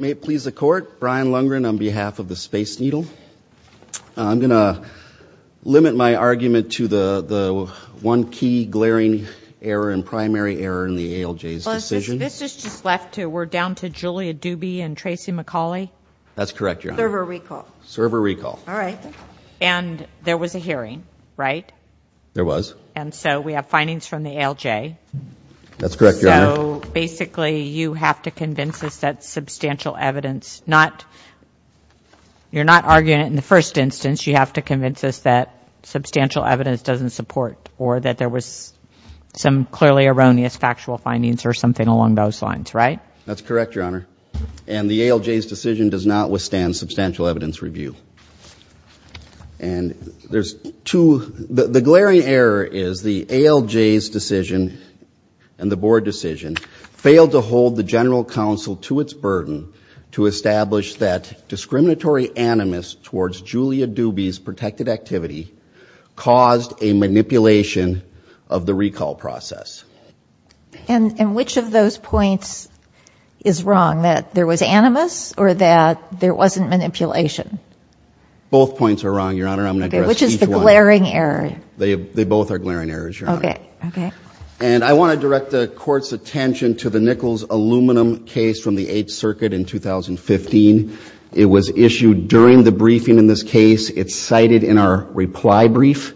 May it please the Court, Brian Lundgren on behalf of the Space Needle. I'm going to limit my argument to the one key glaring error and primary error in the ALJ's decision. Well, this is just left to, we're down to Julia Dubey and Tracy McCauley? That's correct, Your Honor. Server recall. Server recall. All right. And there was a hearing, right? There was. And so we have findings from the ALJ. That's correct, Your Honor. So basically you have to convince us that substantial evidence, not, you're not arguing it in the first instance, you have to convince us that substantial evidence doesn't support or that there was some clearly erroneous factual findings or something along those lines, right? That's correct, Your Honor. And the ALJ's decision does not withstand substantial evidence review. And there's two, the glaring error is the ALJ's decision and the Board decision failed to hold the General Counsel to its burden to establish that discriminatory animus towards Julia Dubey's protected activity caused a manipulation of the recall process. And which of those points is wrong, that there was animus or that there wasn't manipulation? Both points are wrong, Your Honor. I'm going to address each one. Okay. Which is the glaring error? They both are glaring errors, Your Honor. Okay. Okay. And I want to direct the Court's attention to the Nichols aluminum case from the Eighth Circuit in 2015. It was issued during the briefing in this case. It's cited in our reply brief.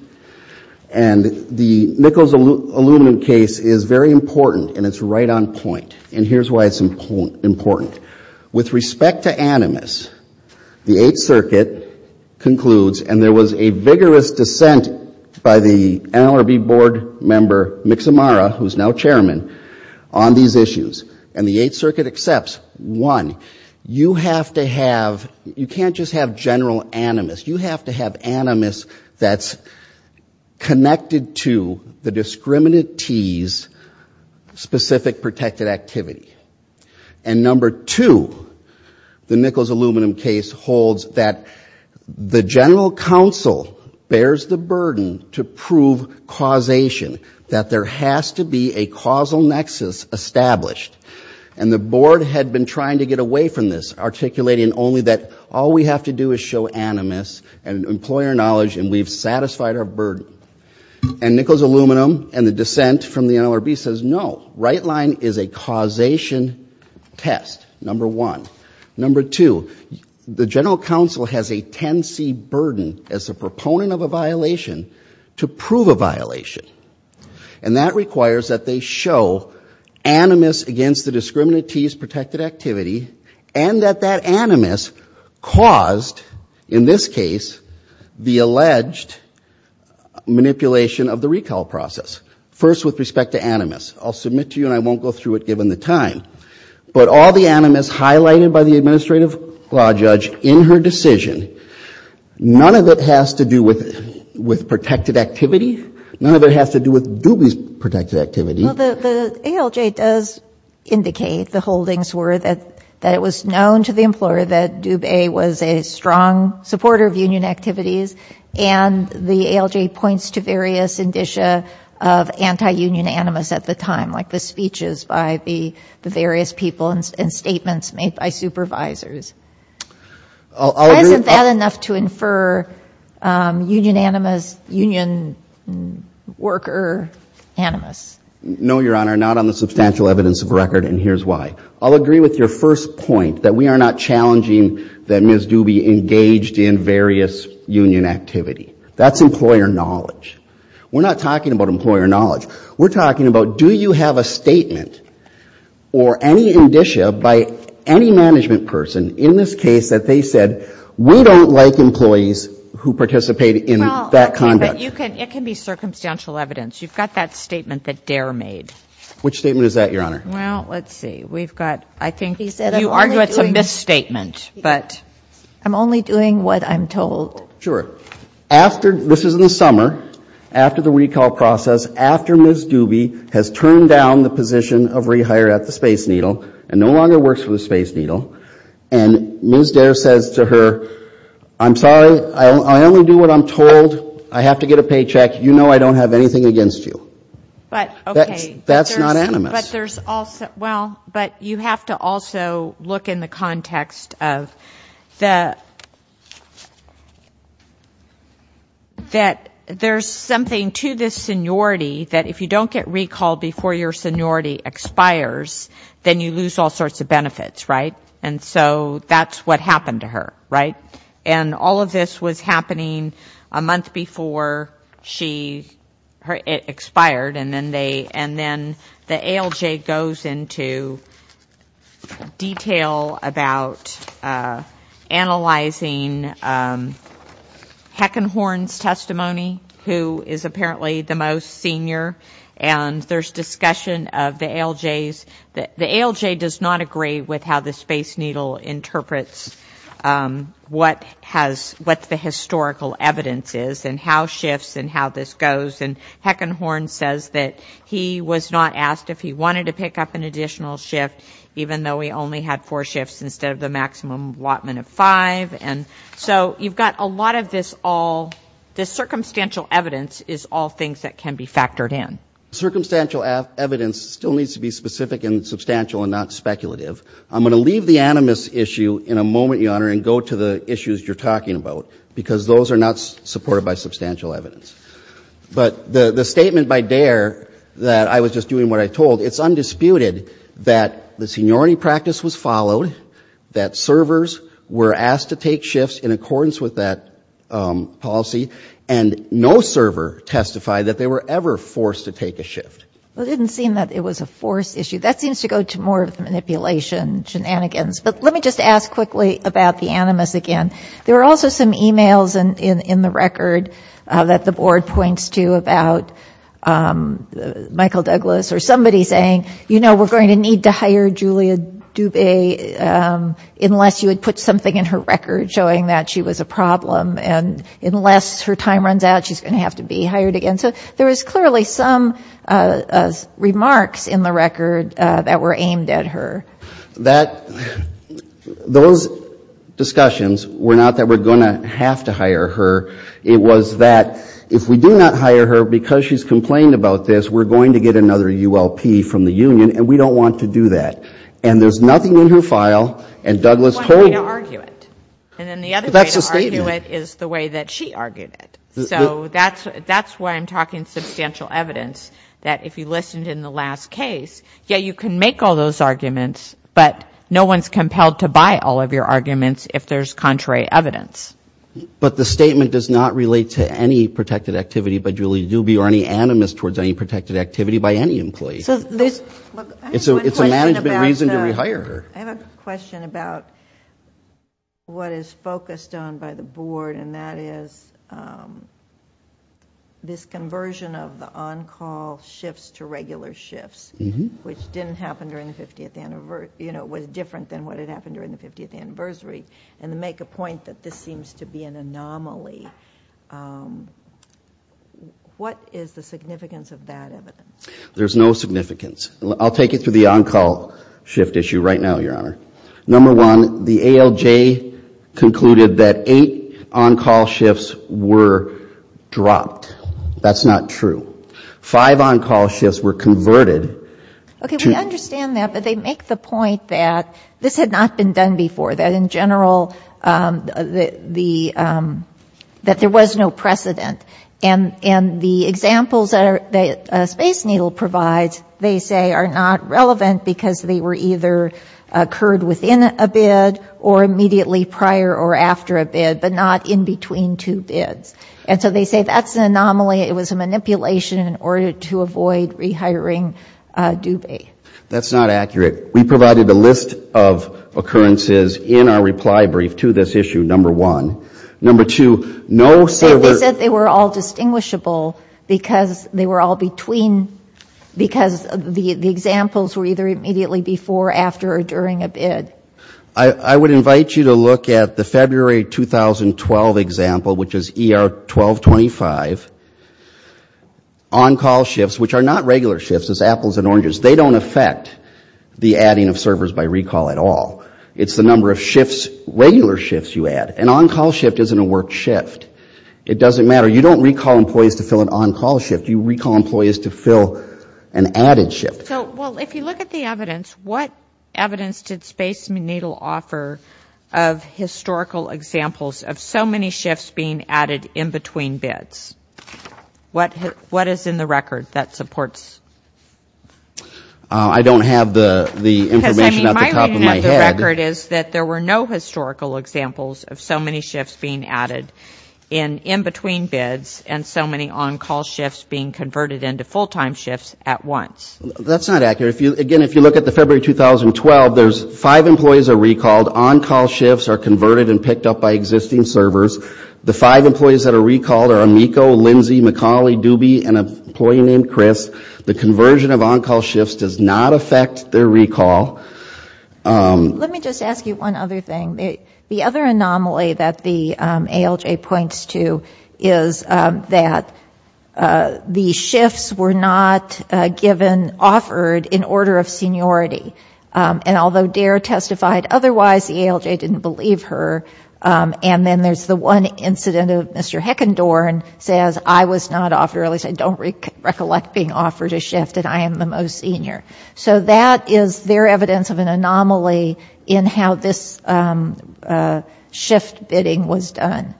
And the Nichols aluminum case is very important, and it's right on point. And here's why it's important. With respect to animus, the Eighth Circuit concludes, and there was a vigorous dissent by the NLRB Board member, Mixamara, who's now Chairman, on these issues. And the Eighth Circuit accepts, one, you have to have, you can't just have general animus. You have to have animus that's connected to the discriminantee's specific protected activity. And number two, the Nichols aluminum case holds that the General Counsel bears the burden to prove causation, that there has to be a causal nexus established. And the Board had been trying to get away from this, articulating only that all we have to do is show animus and employer knowledge, and we've satisfied our burden. And Nichols aluminum and the dissent from the NLRB says, no, right line is a causation test, number one. Number two, the General Counsel has a 10C burden as a proponent of a violation to prove a violation. And that that protected activity and that that animus caused, in this case, the alleged manipulation of the recall process. First with respect to animus. I'll submit to you, and I won't go through it given the time. But all the animus highlighted by the Administrative Clause judge in her decision, none of it has to do with protected activity. None of it has to do with Dubie's protected activity. Well, the ALJ does indicate the holdings were that it was known to the employer that Dubie was a strong supporter of union activities. And the ALJ points to various indicia of anti-union animus at the time, like the speeches by the various people and statements made by supervisors. Isn't that enough to infer union animus, union worker animus? No, Your Honor, not on the substantial evidence of record, and here's why. I'll agree with your first point, that we are not challenging that Ms. Dubie engaged in various union activity. That's employer knowledge. We're not talking about employer knowledge. We're talking about do you have a statement or any indicia by any management person in this case that they said we don't like employees who participate in that conduct? But you can, it can be circumstantial evidence. You've got that statement that Dare made. Which statement is that, Your Honor? Well, let's see. We've got, I think you argue it's a misstatement, but I'm only doing what I'm told. Sure. After, this is in the summer, after the recall process, after Ms. Dubie has turned down the position of rehire at the Space Needle and no longer works for the Space Needle, and Ms. Dare says to her, I'm sorry, I only do what I'm told, I have to get a paycheck, you know I don't have anything against you. But, okay. That's not animus. But there's also, well, but you have to also look in the context of the, that there's something to this seniority that if you don't get recalled before your seniority expires, then you lose all sorts of benefits, right? And so that's what happened to her, right? And all of this was happening a month before she, it expired, and then they, and then the ALJ goes into detail about analyzing Heckenhorn's testimony, who is apparently the most senior, and there's discussion of the ALJ's, the ALJ does not agree with how the Space Needle interprets what has, what the historical evidence is, and how shifts and how this goes, and Heckenhorn says that he was not asked if he wanted to pick up an additional shift, even though he only had four shifts instead of the maximum allotment of five, and so you've got a lot of this all, this circumstantial evidence is all things that can be factored in. Circumstantial evidence still needs to be specific and substantial and not speculative. I'm going to leave the animus issue in a moment, Your Honor, and go to the issues you're talking about, because those are not supported by substantial evidence. But the statement by Dare that I was just doing what I told, it's undisputed that the seniority practice was followed, that servers were asked to take shifts in accordance with that policy, and no server testified that they were ever forced to take a shift. Well, it didn't seem that it was a force issue. That seems to go to more of the manipulation shenanigans, but let me just ask quickly about the animus again. There were also some emails in the record that the Board points to about Michael Douglas or somebody saying, you know, we're going to need to hire Julia Dubé unless you would put something in her record showing that she was a problem, and unless her time runs out, she's going to have to be hired again. So there was clearly some remarks in the record that were aimed at her. Those discussions were not that we're going to have to hire her. It was that if we do not hire her because she's complained about this, we're going to get another ULP from the union, and we don't want to do that. And there's nothing in her file, and Douglas told me. That's one way to argue it. And then the other way to argue it is the way that she argued it. So that's why I'm talking substantial evidence, that if you listened in the last case, yeah, you can make all those arguments, but no one's compelled to buy all of your arguments if there's contrary evidence. But the statement does not relate to any protected activity by Julia Dubé or any animus towards any protected activity by any employee. So this, look, I have one question about the... It's a management reason to rehire her. I have a question about what is focused on by the board, and that is this conversion of the on-call shifts to regular shifts, which didn't happen during the 50th anniversary, you know, was different than what had happened during the 50th anniversary. And to make a point that this seems to be an anomaly, what is the significance of that evidence? There's no significance. I'll take it through the on-call shift issue right now, Your Honor. Number one, the ALJ concluded that eight on-call shifts were dropped. That's not true. Five on-call shifts were converted to... Okay. We understand that, but they make the point that this had not been done before, that in general, that there was no precedent. And the examples that Space Needle provides, they say, are not relevant because they were either occurred within a bid or immediately prior or after a bid, but not in between two bids. And so they say that's an anomaly. It was a manipulation in order to avoid rehiring Dubé. That's not accurate. We provided a list of occurrences in our reply brief to this issue, number one. Number two, no... They said they were all distinguishable because they were all between, because the examples were either immediately before, after, or during a bid. I would invite you to look at the February 2012 example, which is ER 1225. On-call shifts, which are not regular shifts, as apples and oranges, they don't affect the adding of servers by recall at all. It's the number of shifts, regular shifts you add. An on-call shift isn't a worked shift. It doesn't matter. You don't recall employees to fill an on-call shift. You recall employees to fill an added shift. So, well, if you look at the evidence, what evidence did Space Needle offer of historical examples of so many shifts being added in between bids? What is in the record that supports that? I don't have the information at the top of my head. Because, I mean, my reading of the record is that there were no historical examples of so many shifts being added in between bids and so many on-call shifts being converted into full-time shifts at once. That's not accurate. Again, if you look at the February 2012, there's five employees that are recalled. On-call shifts are converted and picked up by existing servers. The five employees that are recalled are Amiko, Lindsey, Macaulay, Doobie, and an employee named Chris. The conversion of on-call shifts does not affect their recall. Let me just ask you one other thing. The other anomaly that the ALJ points to is that the ALJ testified otherwise. The ALJ didn't believe her. And then there's the one incident of Mr. Heckendorn says, I was not offered, or at least I don't recollect being offered a shift and I am the most senior. So that is their evidence of an anomaly in how this shift bidding was done.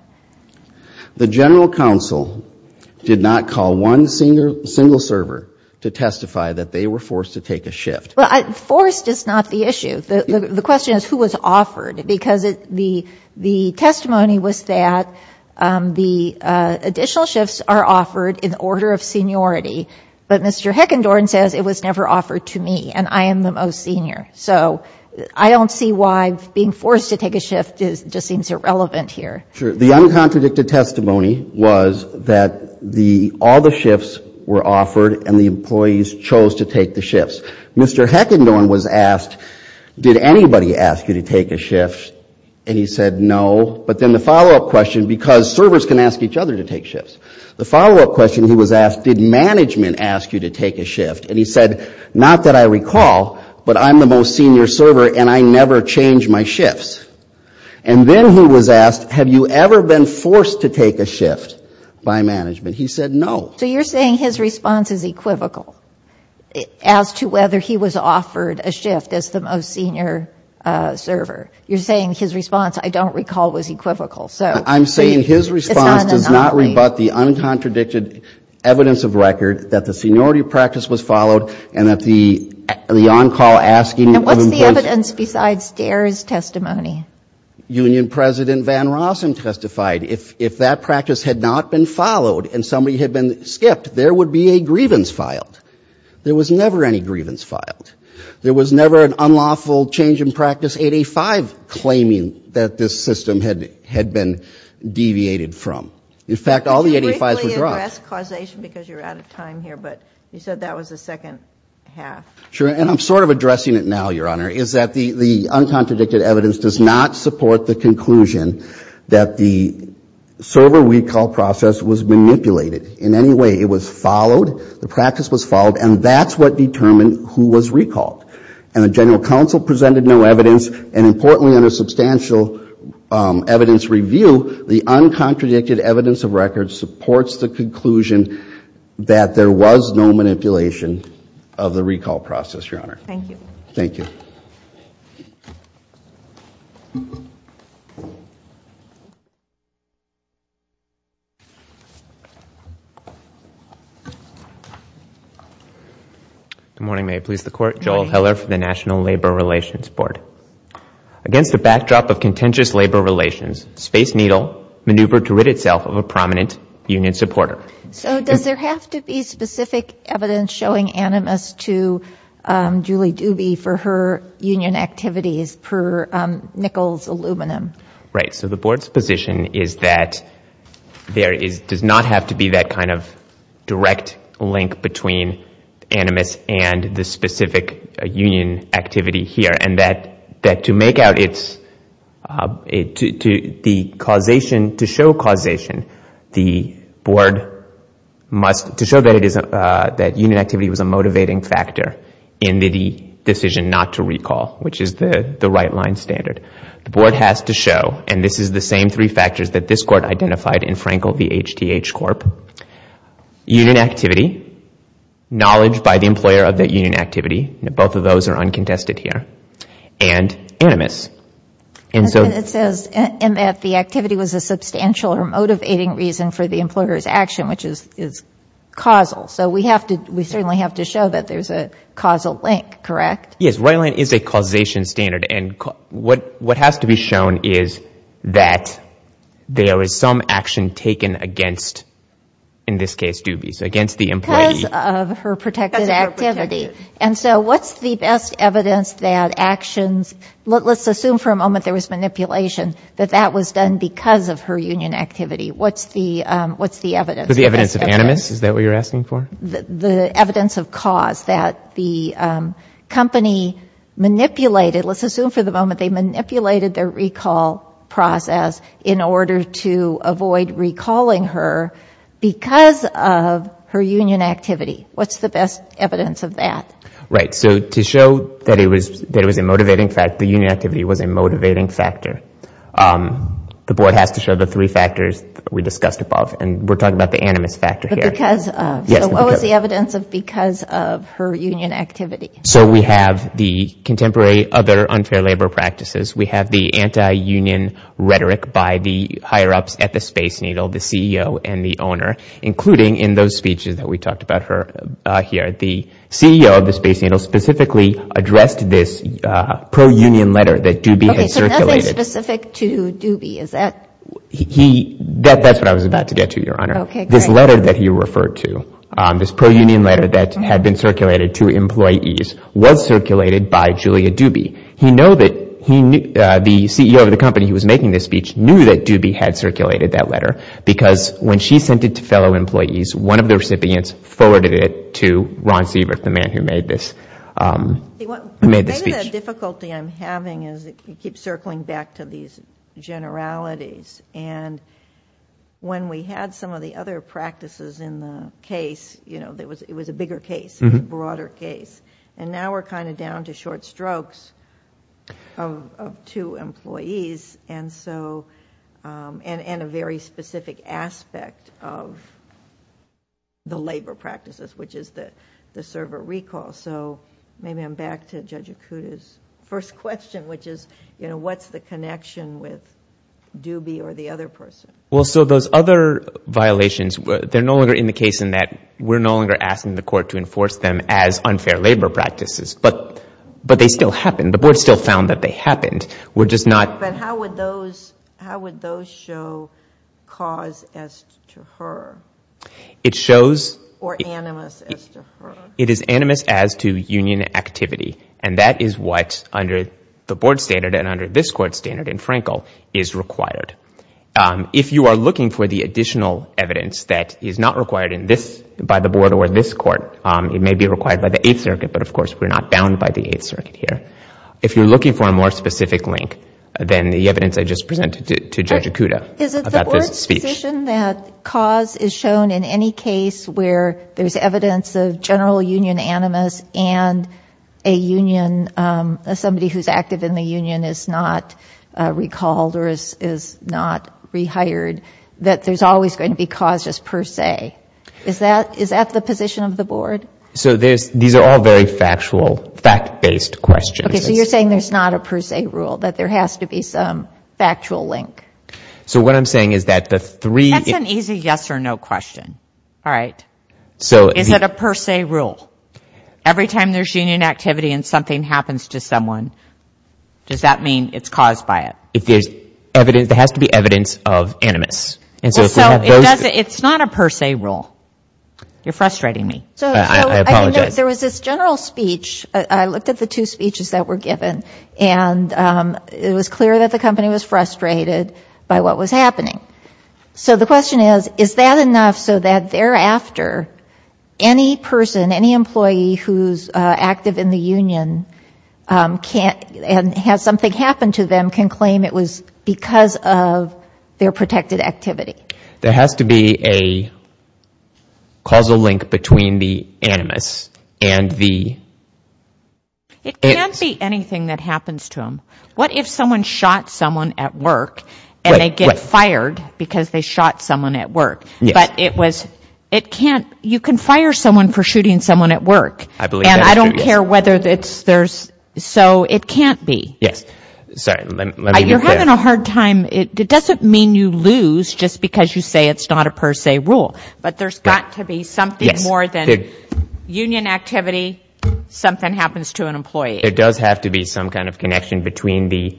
The General Counsel did not call one single server to testify that they were forced to take a shift. Well, forced is not the issue. The question is who was offered. Because the testimony was that the additional shifts are offered in the order of seniority. But Mr. Heckendorn says it was never offered to me and I am the most senior. So I don't see why being forced to take a shift just seems irrelevant here. Sure. The uncontradicted testimony was that all the shifts were offered and the employees chose to take the shifts. Mr. Heckendorn was asked, did anybody ask you to take a shift? And he said no. But then the follow-up question, because servers can ask each other to take shifts, the follow-up question he was asked, did management ask you to take a shift? And he said, not that I recall, but I am the most senior server and I never change my shifts. And then he was asked, have you ever been forced to take a shift by management? He said no. So you're saying his response is equivocal as to whether he was offered a shift as the most senior server. You're saying his response, I don't recall, was equivocal. I'm saying his response does not rebut the uncontradicted evidence of record that the seniority practice was followed and that the on-call asking of employees And what's the evidence besides DARE's testimony? Union President Van Rossum testified. If that practice had not been followed and somebody had been skipped, there would be a grievance filed. There was never any grievance filed. There was never an unlawful change in practice 8A-5 claiming that this system had been deviated from. In fact, all the 8A-5s were dropped. Could you briefly address causation because you're out of time here, but you said that was the second half. Sure. And I'm sort of addressing it now, Your Honor, is that the uncontradicted evidence does not support the conclusion that the server recall process was manipulated in any way. It was followed. The practice was followed. And that's what determined who was recalled. And the General Counsel presented no evidence. And importantly, under substantial evidence review, the uncontradicted evidence of record supports the conclusion that there was no manipulation of the recall process, Your Honor. Thank you. Good morning. May it please the Court. Joel Heller for the National Labor Relations Board. Against the backdrop of contentious labor relations, Space Needle maneuvered to rid itself of a prominent union supporter. So does there have to be specific evidence showing animus to Julie Dubie for her union activities per Nichols Aluminum? Right. So the Board's position is that there does not have to be that kind of direct link between animus and the specific union activity here. And that to make out its, to show causation, the Board must, to show that union activity was a motivating factor in the decision not to recall, which is the right-line standard. The Board has to show, and this is the same three factors that this Court identified in Frankel v. HTH Corp., union activity, knowledge by the employer of that union activity, both of those are uncontested here, and animus. And so It says that the activity was a substantial or motivating reason for the employer's action, which is causal. So we have to, we certainly have to show that there's a causal link, correct? Yes. Right-line is a causation standard. And what has to be shown is that there is some action taken against, in this case, Dubie. So against the employee. Because of her protected activity. And so what's the best evidence that actions, let's assume for a moment there was manipulation, that that was done because of her union activity. What's the evidence? The evidence of animus? Is that what you're asking for? The evidence of cause that the company manipulated, let's assume for the moment they manipulated their recall process in order to avoid recalling her because of her union activity. What's the best evidence of that? Right. So to show that it was a motivating fact, the union activity was a motivating factor. The Board has to show the three factors we discussed above. And we're talking about the animus factor here. But because of. Yes. So what was the evidence of because of her union activity? So we have the contemporary other unfair labor practices. We have the anti-union rhetoric by the higher ups at the Space Needle, the CEO and the owner, including in those speeches that we talked about her here. The CEO of the Space Needle specifically addressed this pro-union letter that Dubie had circulated. Okay. So nothing specific to Dubie. Is that? He, that's what I was about to get to, Your Honor. Okay. Great. So this letter that he referred to, this pro-union letter that had been circulated to employees was circulated by Julia Dubie. He knew that the CEO of the company who was making this speech knew that Dubie had circulated that letter because when she sent it to fellow employees, one of the recipients forwarded it to Ron Siebert, the man who made this speech. The difficulty I'm having is you keep circling back to these generalities. And when we had some of the other practices in the case, it was a bigger case, a broader case. And now we're kind of down to short strokes of two employees and a very specific aspect of the labor practices, which is the servant recall. So maybe I'm back to Judge Acuda's first question, which is what's the connection with Dubie or the other person? Well, so those other violations, they're no longer in the case in that we're no longer asking the court to enforce them as unfair labor practices. But they still happen. The board still found that they happened. We're just not But how would those show cause as to her? It shows Or animus as to her? It is animus as to union activity. And that is what under the board standard and under this court standard in Frankel is required. If you are looking for the additional evidence that is not required in this by the board or this court, it may be required by the Eighth Circuit. But of course, we're not bound by the Eighth Circuit here. If you're looking for a more specific link, then the evidence I just presented to Judge Acuda about this speech Is it the board's decision that cause is shown in any case where there's evidence of general union animus and a union, somebody who's active in the union is not recalled or is not rehired, that there's always going to be cause just per se? Is that the position of the board? So these are all very factual, fact-based questions. Okay, so you're saying there's not a per se rule, that there has to be some factual link? So what I'm saying is that the three That's an easy yes or no question. All right. Is it a per se rule? Every time there's union activity and something happens to someone, does that mean it's caused by it? If there's evidence, there has to be evidence of animus. Well, so it's not a per se rule. You're frustrating me. I apologize. There was this general speech. I looked at the two speeches that were given, and it was clear that the company was frustrated by what was happening. So the question is, is that enough so that thereafter, any person, any employee who's active in the union can't and has something happen to them can claim it was because of their protected activity? There has to be a causal link between the animus and the It can't be anything that happens to them. What if someone shot someone at work and they get fired because they shot someone at work? But it was, it can't, you can fire someone for shooting someone at work, and I don't care whether there's, so it can't be. Yes. Sorry. You're having a hard time. It doesn't mean you lose just because you say it's not a per union activity, something happens to an employee. There does have to be some kind of connection between the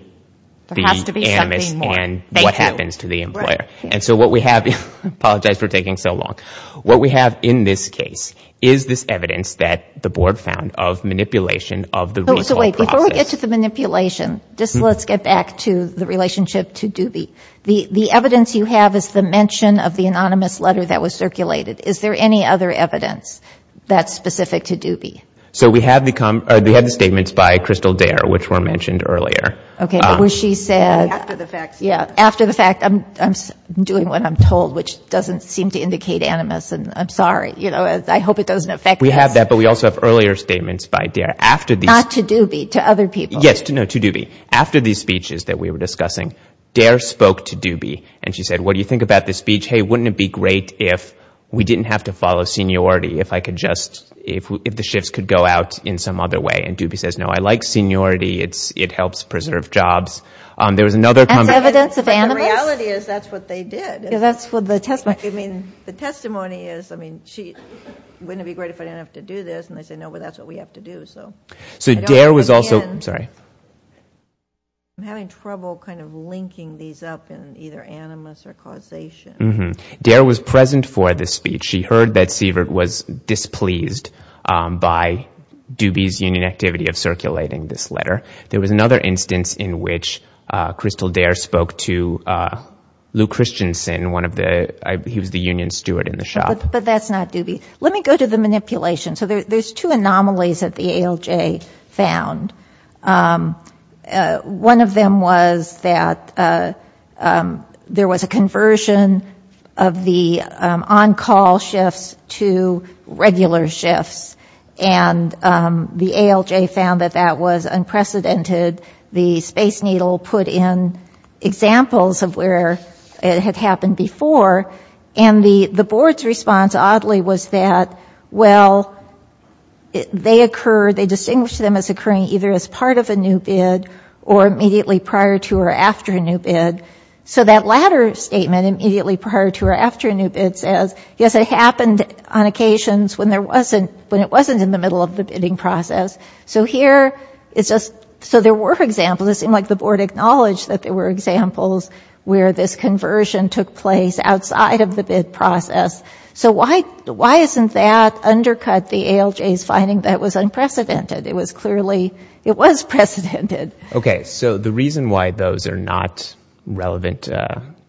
animus and what happens to the employer. And so what we have, I apologize for taking so long. What we have in this case is this evidence that the board found of manipulation of the recall process. So wait, before we get to the manipulation, just let's get back to the relationship to Doobie. The evidence you have is the mention of the anonymous letter that was circulated. Is there any other evidence that's specific to Doobie? So we have the statements by Crystal Dare, which were mentioned earlier. Okay. Where she said, yeah, after the fact, I'm doing what I'm told, which doesn't seem to indicate animus, and I'm sorry, you know, I hope it doesn't affect us. We have that, but we also have earlier statements by Dare after these. Not to Doobie, to other people. Yes, no, to Doobie. After these speeches that we were discussing, Dare spoke to Doobie and she said, what do you think about this speech? Hey, wouldn't it be great if we didn't have to follow seniority, if I could just, if the shifts could go out in some other way? And Doobie says, no, I like seniority. It helps preserve jobs. There was another comment. That's evidence of animus? But the reality is, that's what they did. Yeah, that's what the testimony. I mean, the testimony is, I mean, she, wouldn't it be great if I didn't have to do this? And they say, no, but that's what we have to do, so. So Dare was also, I'm sorry. I'm having trouble kind of linking these up in either animus or causation. Dare was present for the speech. She heard that Sievert was displeased by Doobie's union activity of circulating this letter. There was another instance in which Crystal Dare spoke to Lou Christensen, one of the, he was the union steward in the shop. But that's not Doobie. Let me go to the manipulation. So there's two anomalies that the ALJ found. One of them was that there was a conversion of the on-call shifts to regular shifts. And the ALJ found that that was unprecedented. The Space Needle put in examples of where it had happened before. And the board's response, oddly, was that, well, they occur, they distinguish them as occurring either as part of a new bid or immediately prior to or after a new bid. So that latter statement, immediately prior to or after a new bid, says, yes, it happened on occasions when there wasn't, when it wasn't in the middle of the bidding process. So here, it's just, so there were examples. It seemed like the board acknowledged that there were examples where this conversion took place outside of the bid process. So why isn't that undercut the ALJ's finding that it was unprecedented? It was clearly, it was precedented. Okay, so the reason why those are not relevant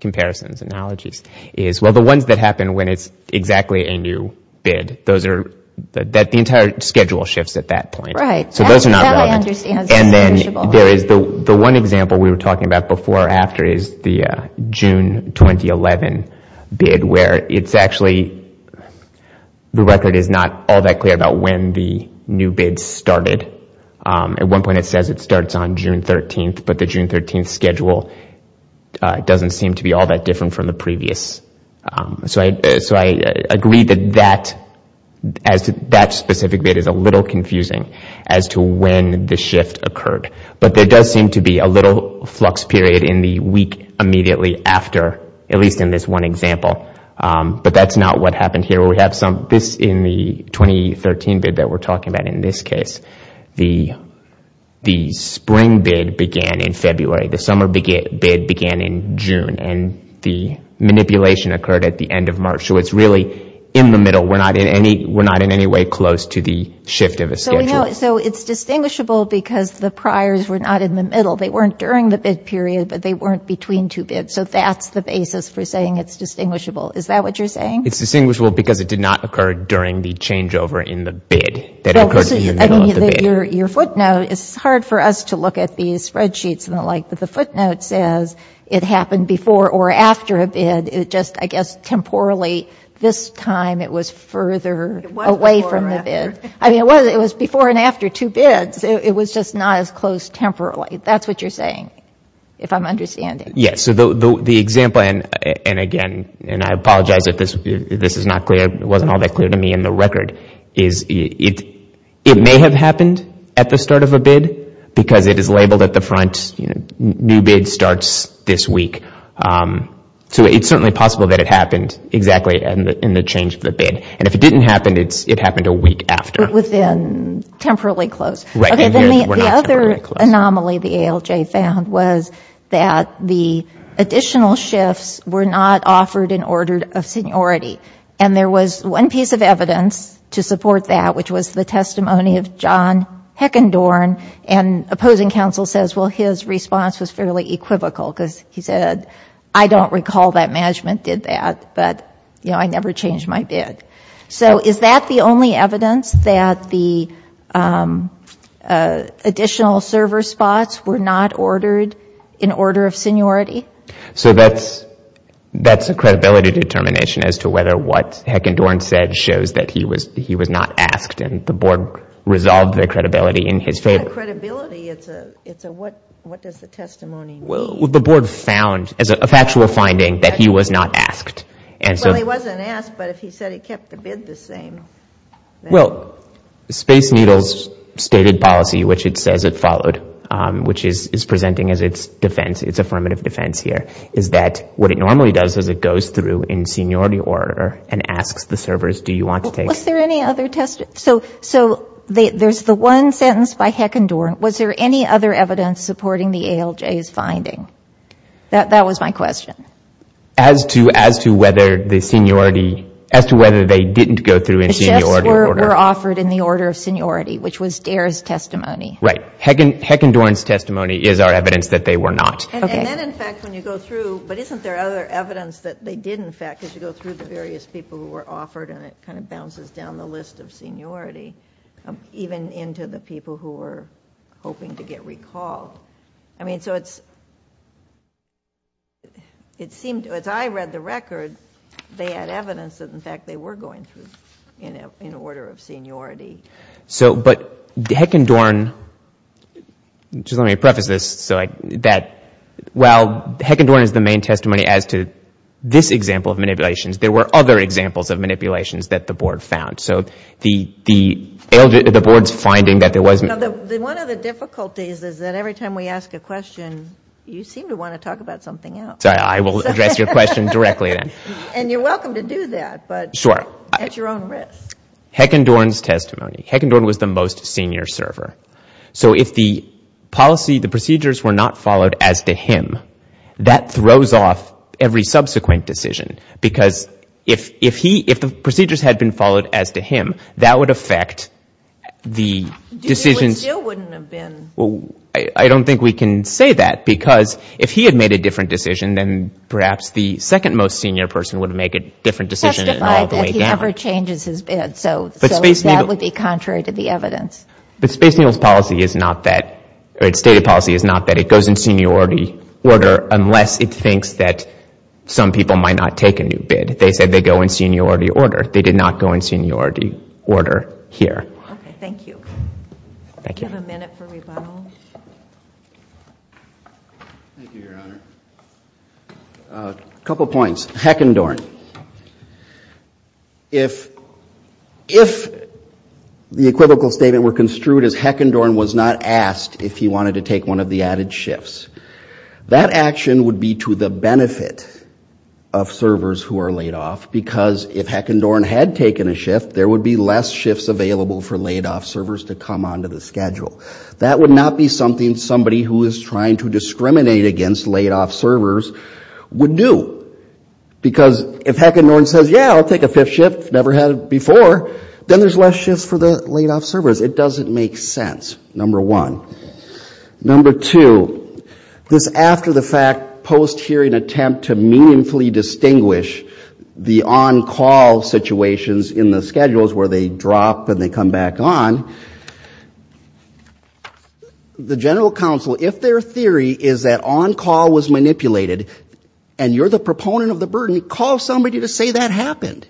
comparisons, analogies, is, well, the ones that happen when it's exactly a new bid, those are, the entire schedule shifts at that point. Right. So those are not relevant. That I understand is distinguishable. The one example we were talking about before or after is the June 2011 bid where it's actually, the record is not all that clear about when the new bid started. At one point it says it starts on June 13th, but the June 13th schedule doesn't seem to be all that different from the previous. So I agree that that specific bid is a little confusing as to when the shift occurred. But there does seem to be a little flux period in the week immediately after, at least in this one example. But that's not what happened here. We have some, this in the 2013 bid that we're talking about in this case, the spring bid began in February. The summer bid began in June. And the manipulation occurred at the end of March. So it's really in the middle. We're not in any way close to the shift of a schedule. So it's distinguishable because the priors were not in the middle. They weren't during the bid period, but they weren't between two bids. So that's the basis for saying it's distinguishable. Is that what you're saying? It's distinguishable because it did not occur during the changeover in the bid. That occurred in the middle of the bid. Your footnote, it's hard for us to look at these spreadsheets and the like, that says it happened before or after a bid. It just, I guess, temporally, this time it was further away from the bid. I mean, it was before and after two bids. It was just not as close temporally. That's what you're saying, if I'm understanding. Yes. So the example, and again, and I apologize if this is not clear, it wasn't all that clear to me in the record, is it may have happened at the start of a bid because it is labeled at the front, you know, new bid starts this week. So it's certainly possible that it happened exactly in the change of the bid. And if it didn't happen, it happened a week after. Within, temporally close. Right, and here we're not temporally close. Okay, then the other anomaly the ALJ found was that the additional shifts were not offered in order of seniority. And there was one piece of evidence to support that, which was the testimony of John Heckendorn. And opposing counsel says, well, his response was fairly equivocal because he said, I don't recall that management did that, but, you know, I never changed my bid. So is that the only evidence that the additional server spots were not ordered in order of seniority? So that's a credibility determination as to whether what Heckendorn said shows that he was not asked and the board resolved their credibility in his favor. Not credibility, it's a what does the testimony mean? Well, the board found as a factual finding that he was not asked. Well, he wasn't asked, but if he said he kept the bid the same. Well, Space Needle's stated policy, which it says it followed, which is presenting as its defense, its affirmative defense here, is that what it normally does is it goes through in seniority order and asks the servers, do you want to take? Was there any other test? So there's the one sentence by Heckendorn. Was there any other evidence supporting the ALJ's finding? That was my question. As to whether the seniority, as to whether they didn't go through in seniority order. The chefs were offered in the order of seniority, which was Dair's testimony. Right. Heckendorn's testimony is our evidence that they were not. Okay. And then, in fact, when you go through, but isn't there other evidence that they did, in fact, because you go through the various people who were offered and it kind of bounces down the list of seniority, even into the people who were hoping to get recalled? I mean, so it's, it seemed, as I read the record, they had evidence that, in fact, they were going through in order of seniority. So, but Heckendorn, just let me preface this, so that while Heckendorn is the main testimony as to this example of manipulations, there were other examples of manipulations that the board found. So the ALJ, the board's finding that there was. One of the difficulties is that every time we ask a question, you seem to want to talk about something else. I will address your question directly then. And you're welcome to do that, but at your own risk. Heckendorn's testimony. Heckendorn was the most senior server. So if the policy, the procedures were not followed as to him, that throws off every subsequent decision. Because if he, if the procedures had been followed as to him, that would affect the decisions. It still wouldn't have been. Well, I don't think we can say that, because if he had made a different decision, then perhaps the second most senior person would make a different decision. Testify that he ever changes his bid. So that would be contrary to the evidence. But Space Needle's policy is not that, or its stated policy is not that it goes in seniority order, unless it thinks that some people might not take a new bid. They said they go in seniority order. They did not go in seniority order here. Okay, thank you. Thank you. Do you have a minute for rebuttal? Thank you, Your Honor. A couple points. Heckendorn. If the equivocal statement were construed as Heckendorn was not asked if he wanted to take one of the added shifts, that action would be to the benefit of servers who are laid off, because if Heckendorn had taken a shift, there would be less shifts available for laid-off servers to come onto the schedule. That would not be something somebody who is trying to discriminate against laid-off servers would do. Because if Heckendorn says, yeah, I'll take a fifth shift, never had it before, then there's less shifts for the laid-off servers. It doesn't make sense, number one. Number two, this after-the-fact, post-hearing attempt to meaningfully distinguish the on-call situations in the schedules where they drop and they come back on, the General Counsel, if their theory is that on-call was manipulated and you're the proponent of the burden, call somebody to say that happened.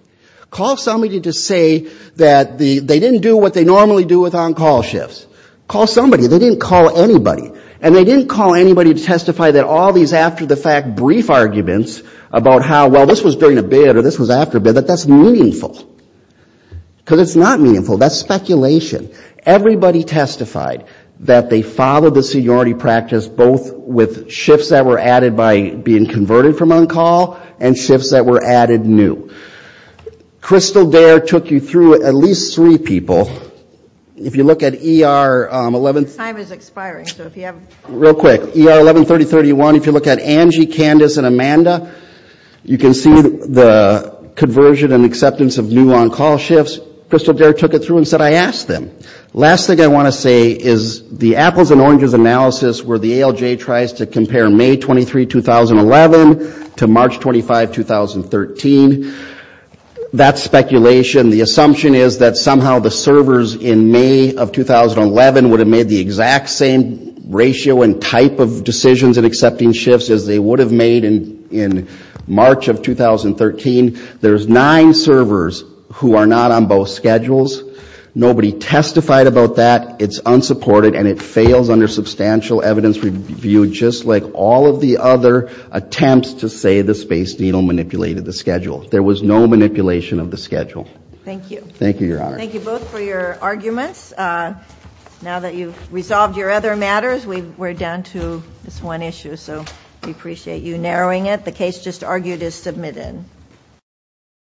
Call somebody to say that they didn't do what they normally do with on-call shifts. Call somebody. They didn't call anybody. And they didn't call anybody to testify that all these after-the-fact brief arguments about how, well, this was during a bid or this was after a bid, that that's meaningful. Because it's not meaningful. That's speculation. Everybody testified that they followed the seniority practice, both with shifts that were added by being converted from on-call and shifts that were added new. Crystal Dare took you through at least three people. If you look at ER 1131, if you look at Angie, Candace, and Amanda, you can see the conversion and acceptance of new on-call shifts. Crystal Dare took it through and said, I asked them. Last thing I want to say is the apples and oranges analysis where the ALJ tries to compare May 23, 2011 to March 25, 2013, that's speculation. The assumption is that somehow the servers in May of 2011 would have made the exact same ratio and type of decisions in accepting shifts as they would have made in March of 2013. There's nine servers who are not on both schedules. Nobody testified about that. It's unsupported, and it fails under substantial evidence review, just like all of the other attempts to say the Space Needle manipulated the schedule. There was no manipulation of the schedule. Thank you. Thank you, Your Honor. Thank you both for your arguments. Now that you've resolved your other matters, we're down to this one issue. So we appreciate you narrowing it. The case just argued is submitted. Thank you.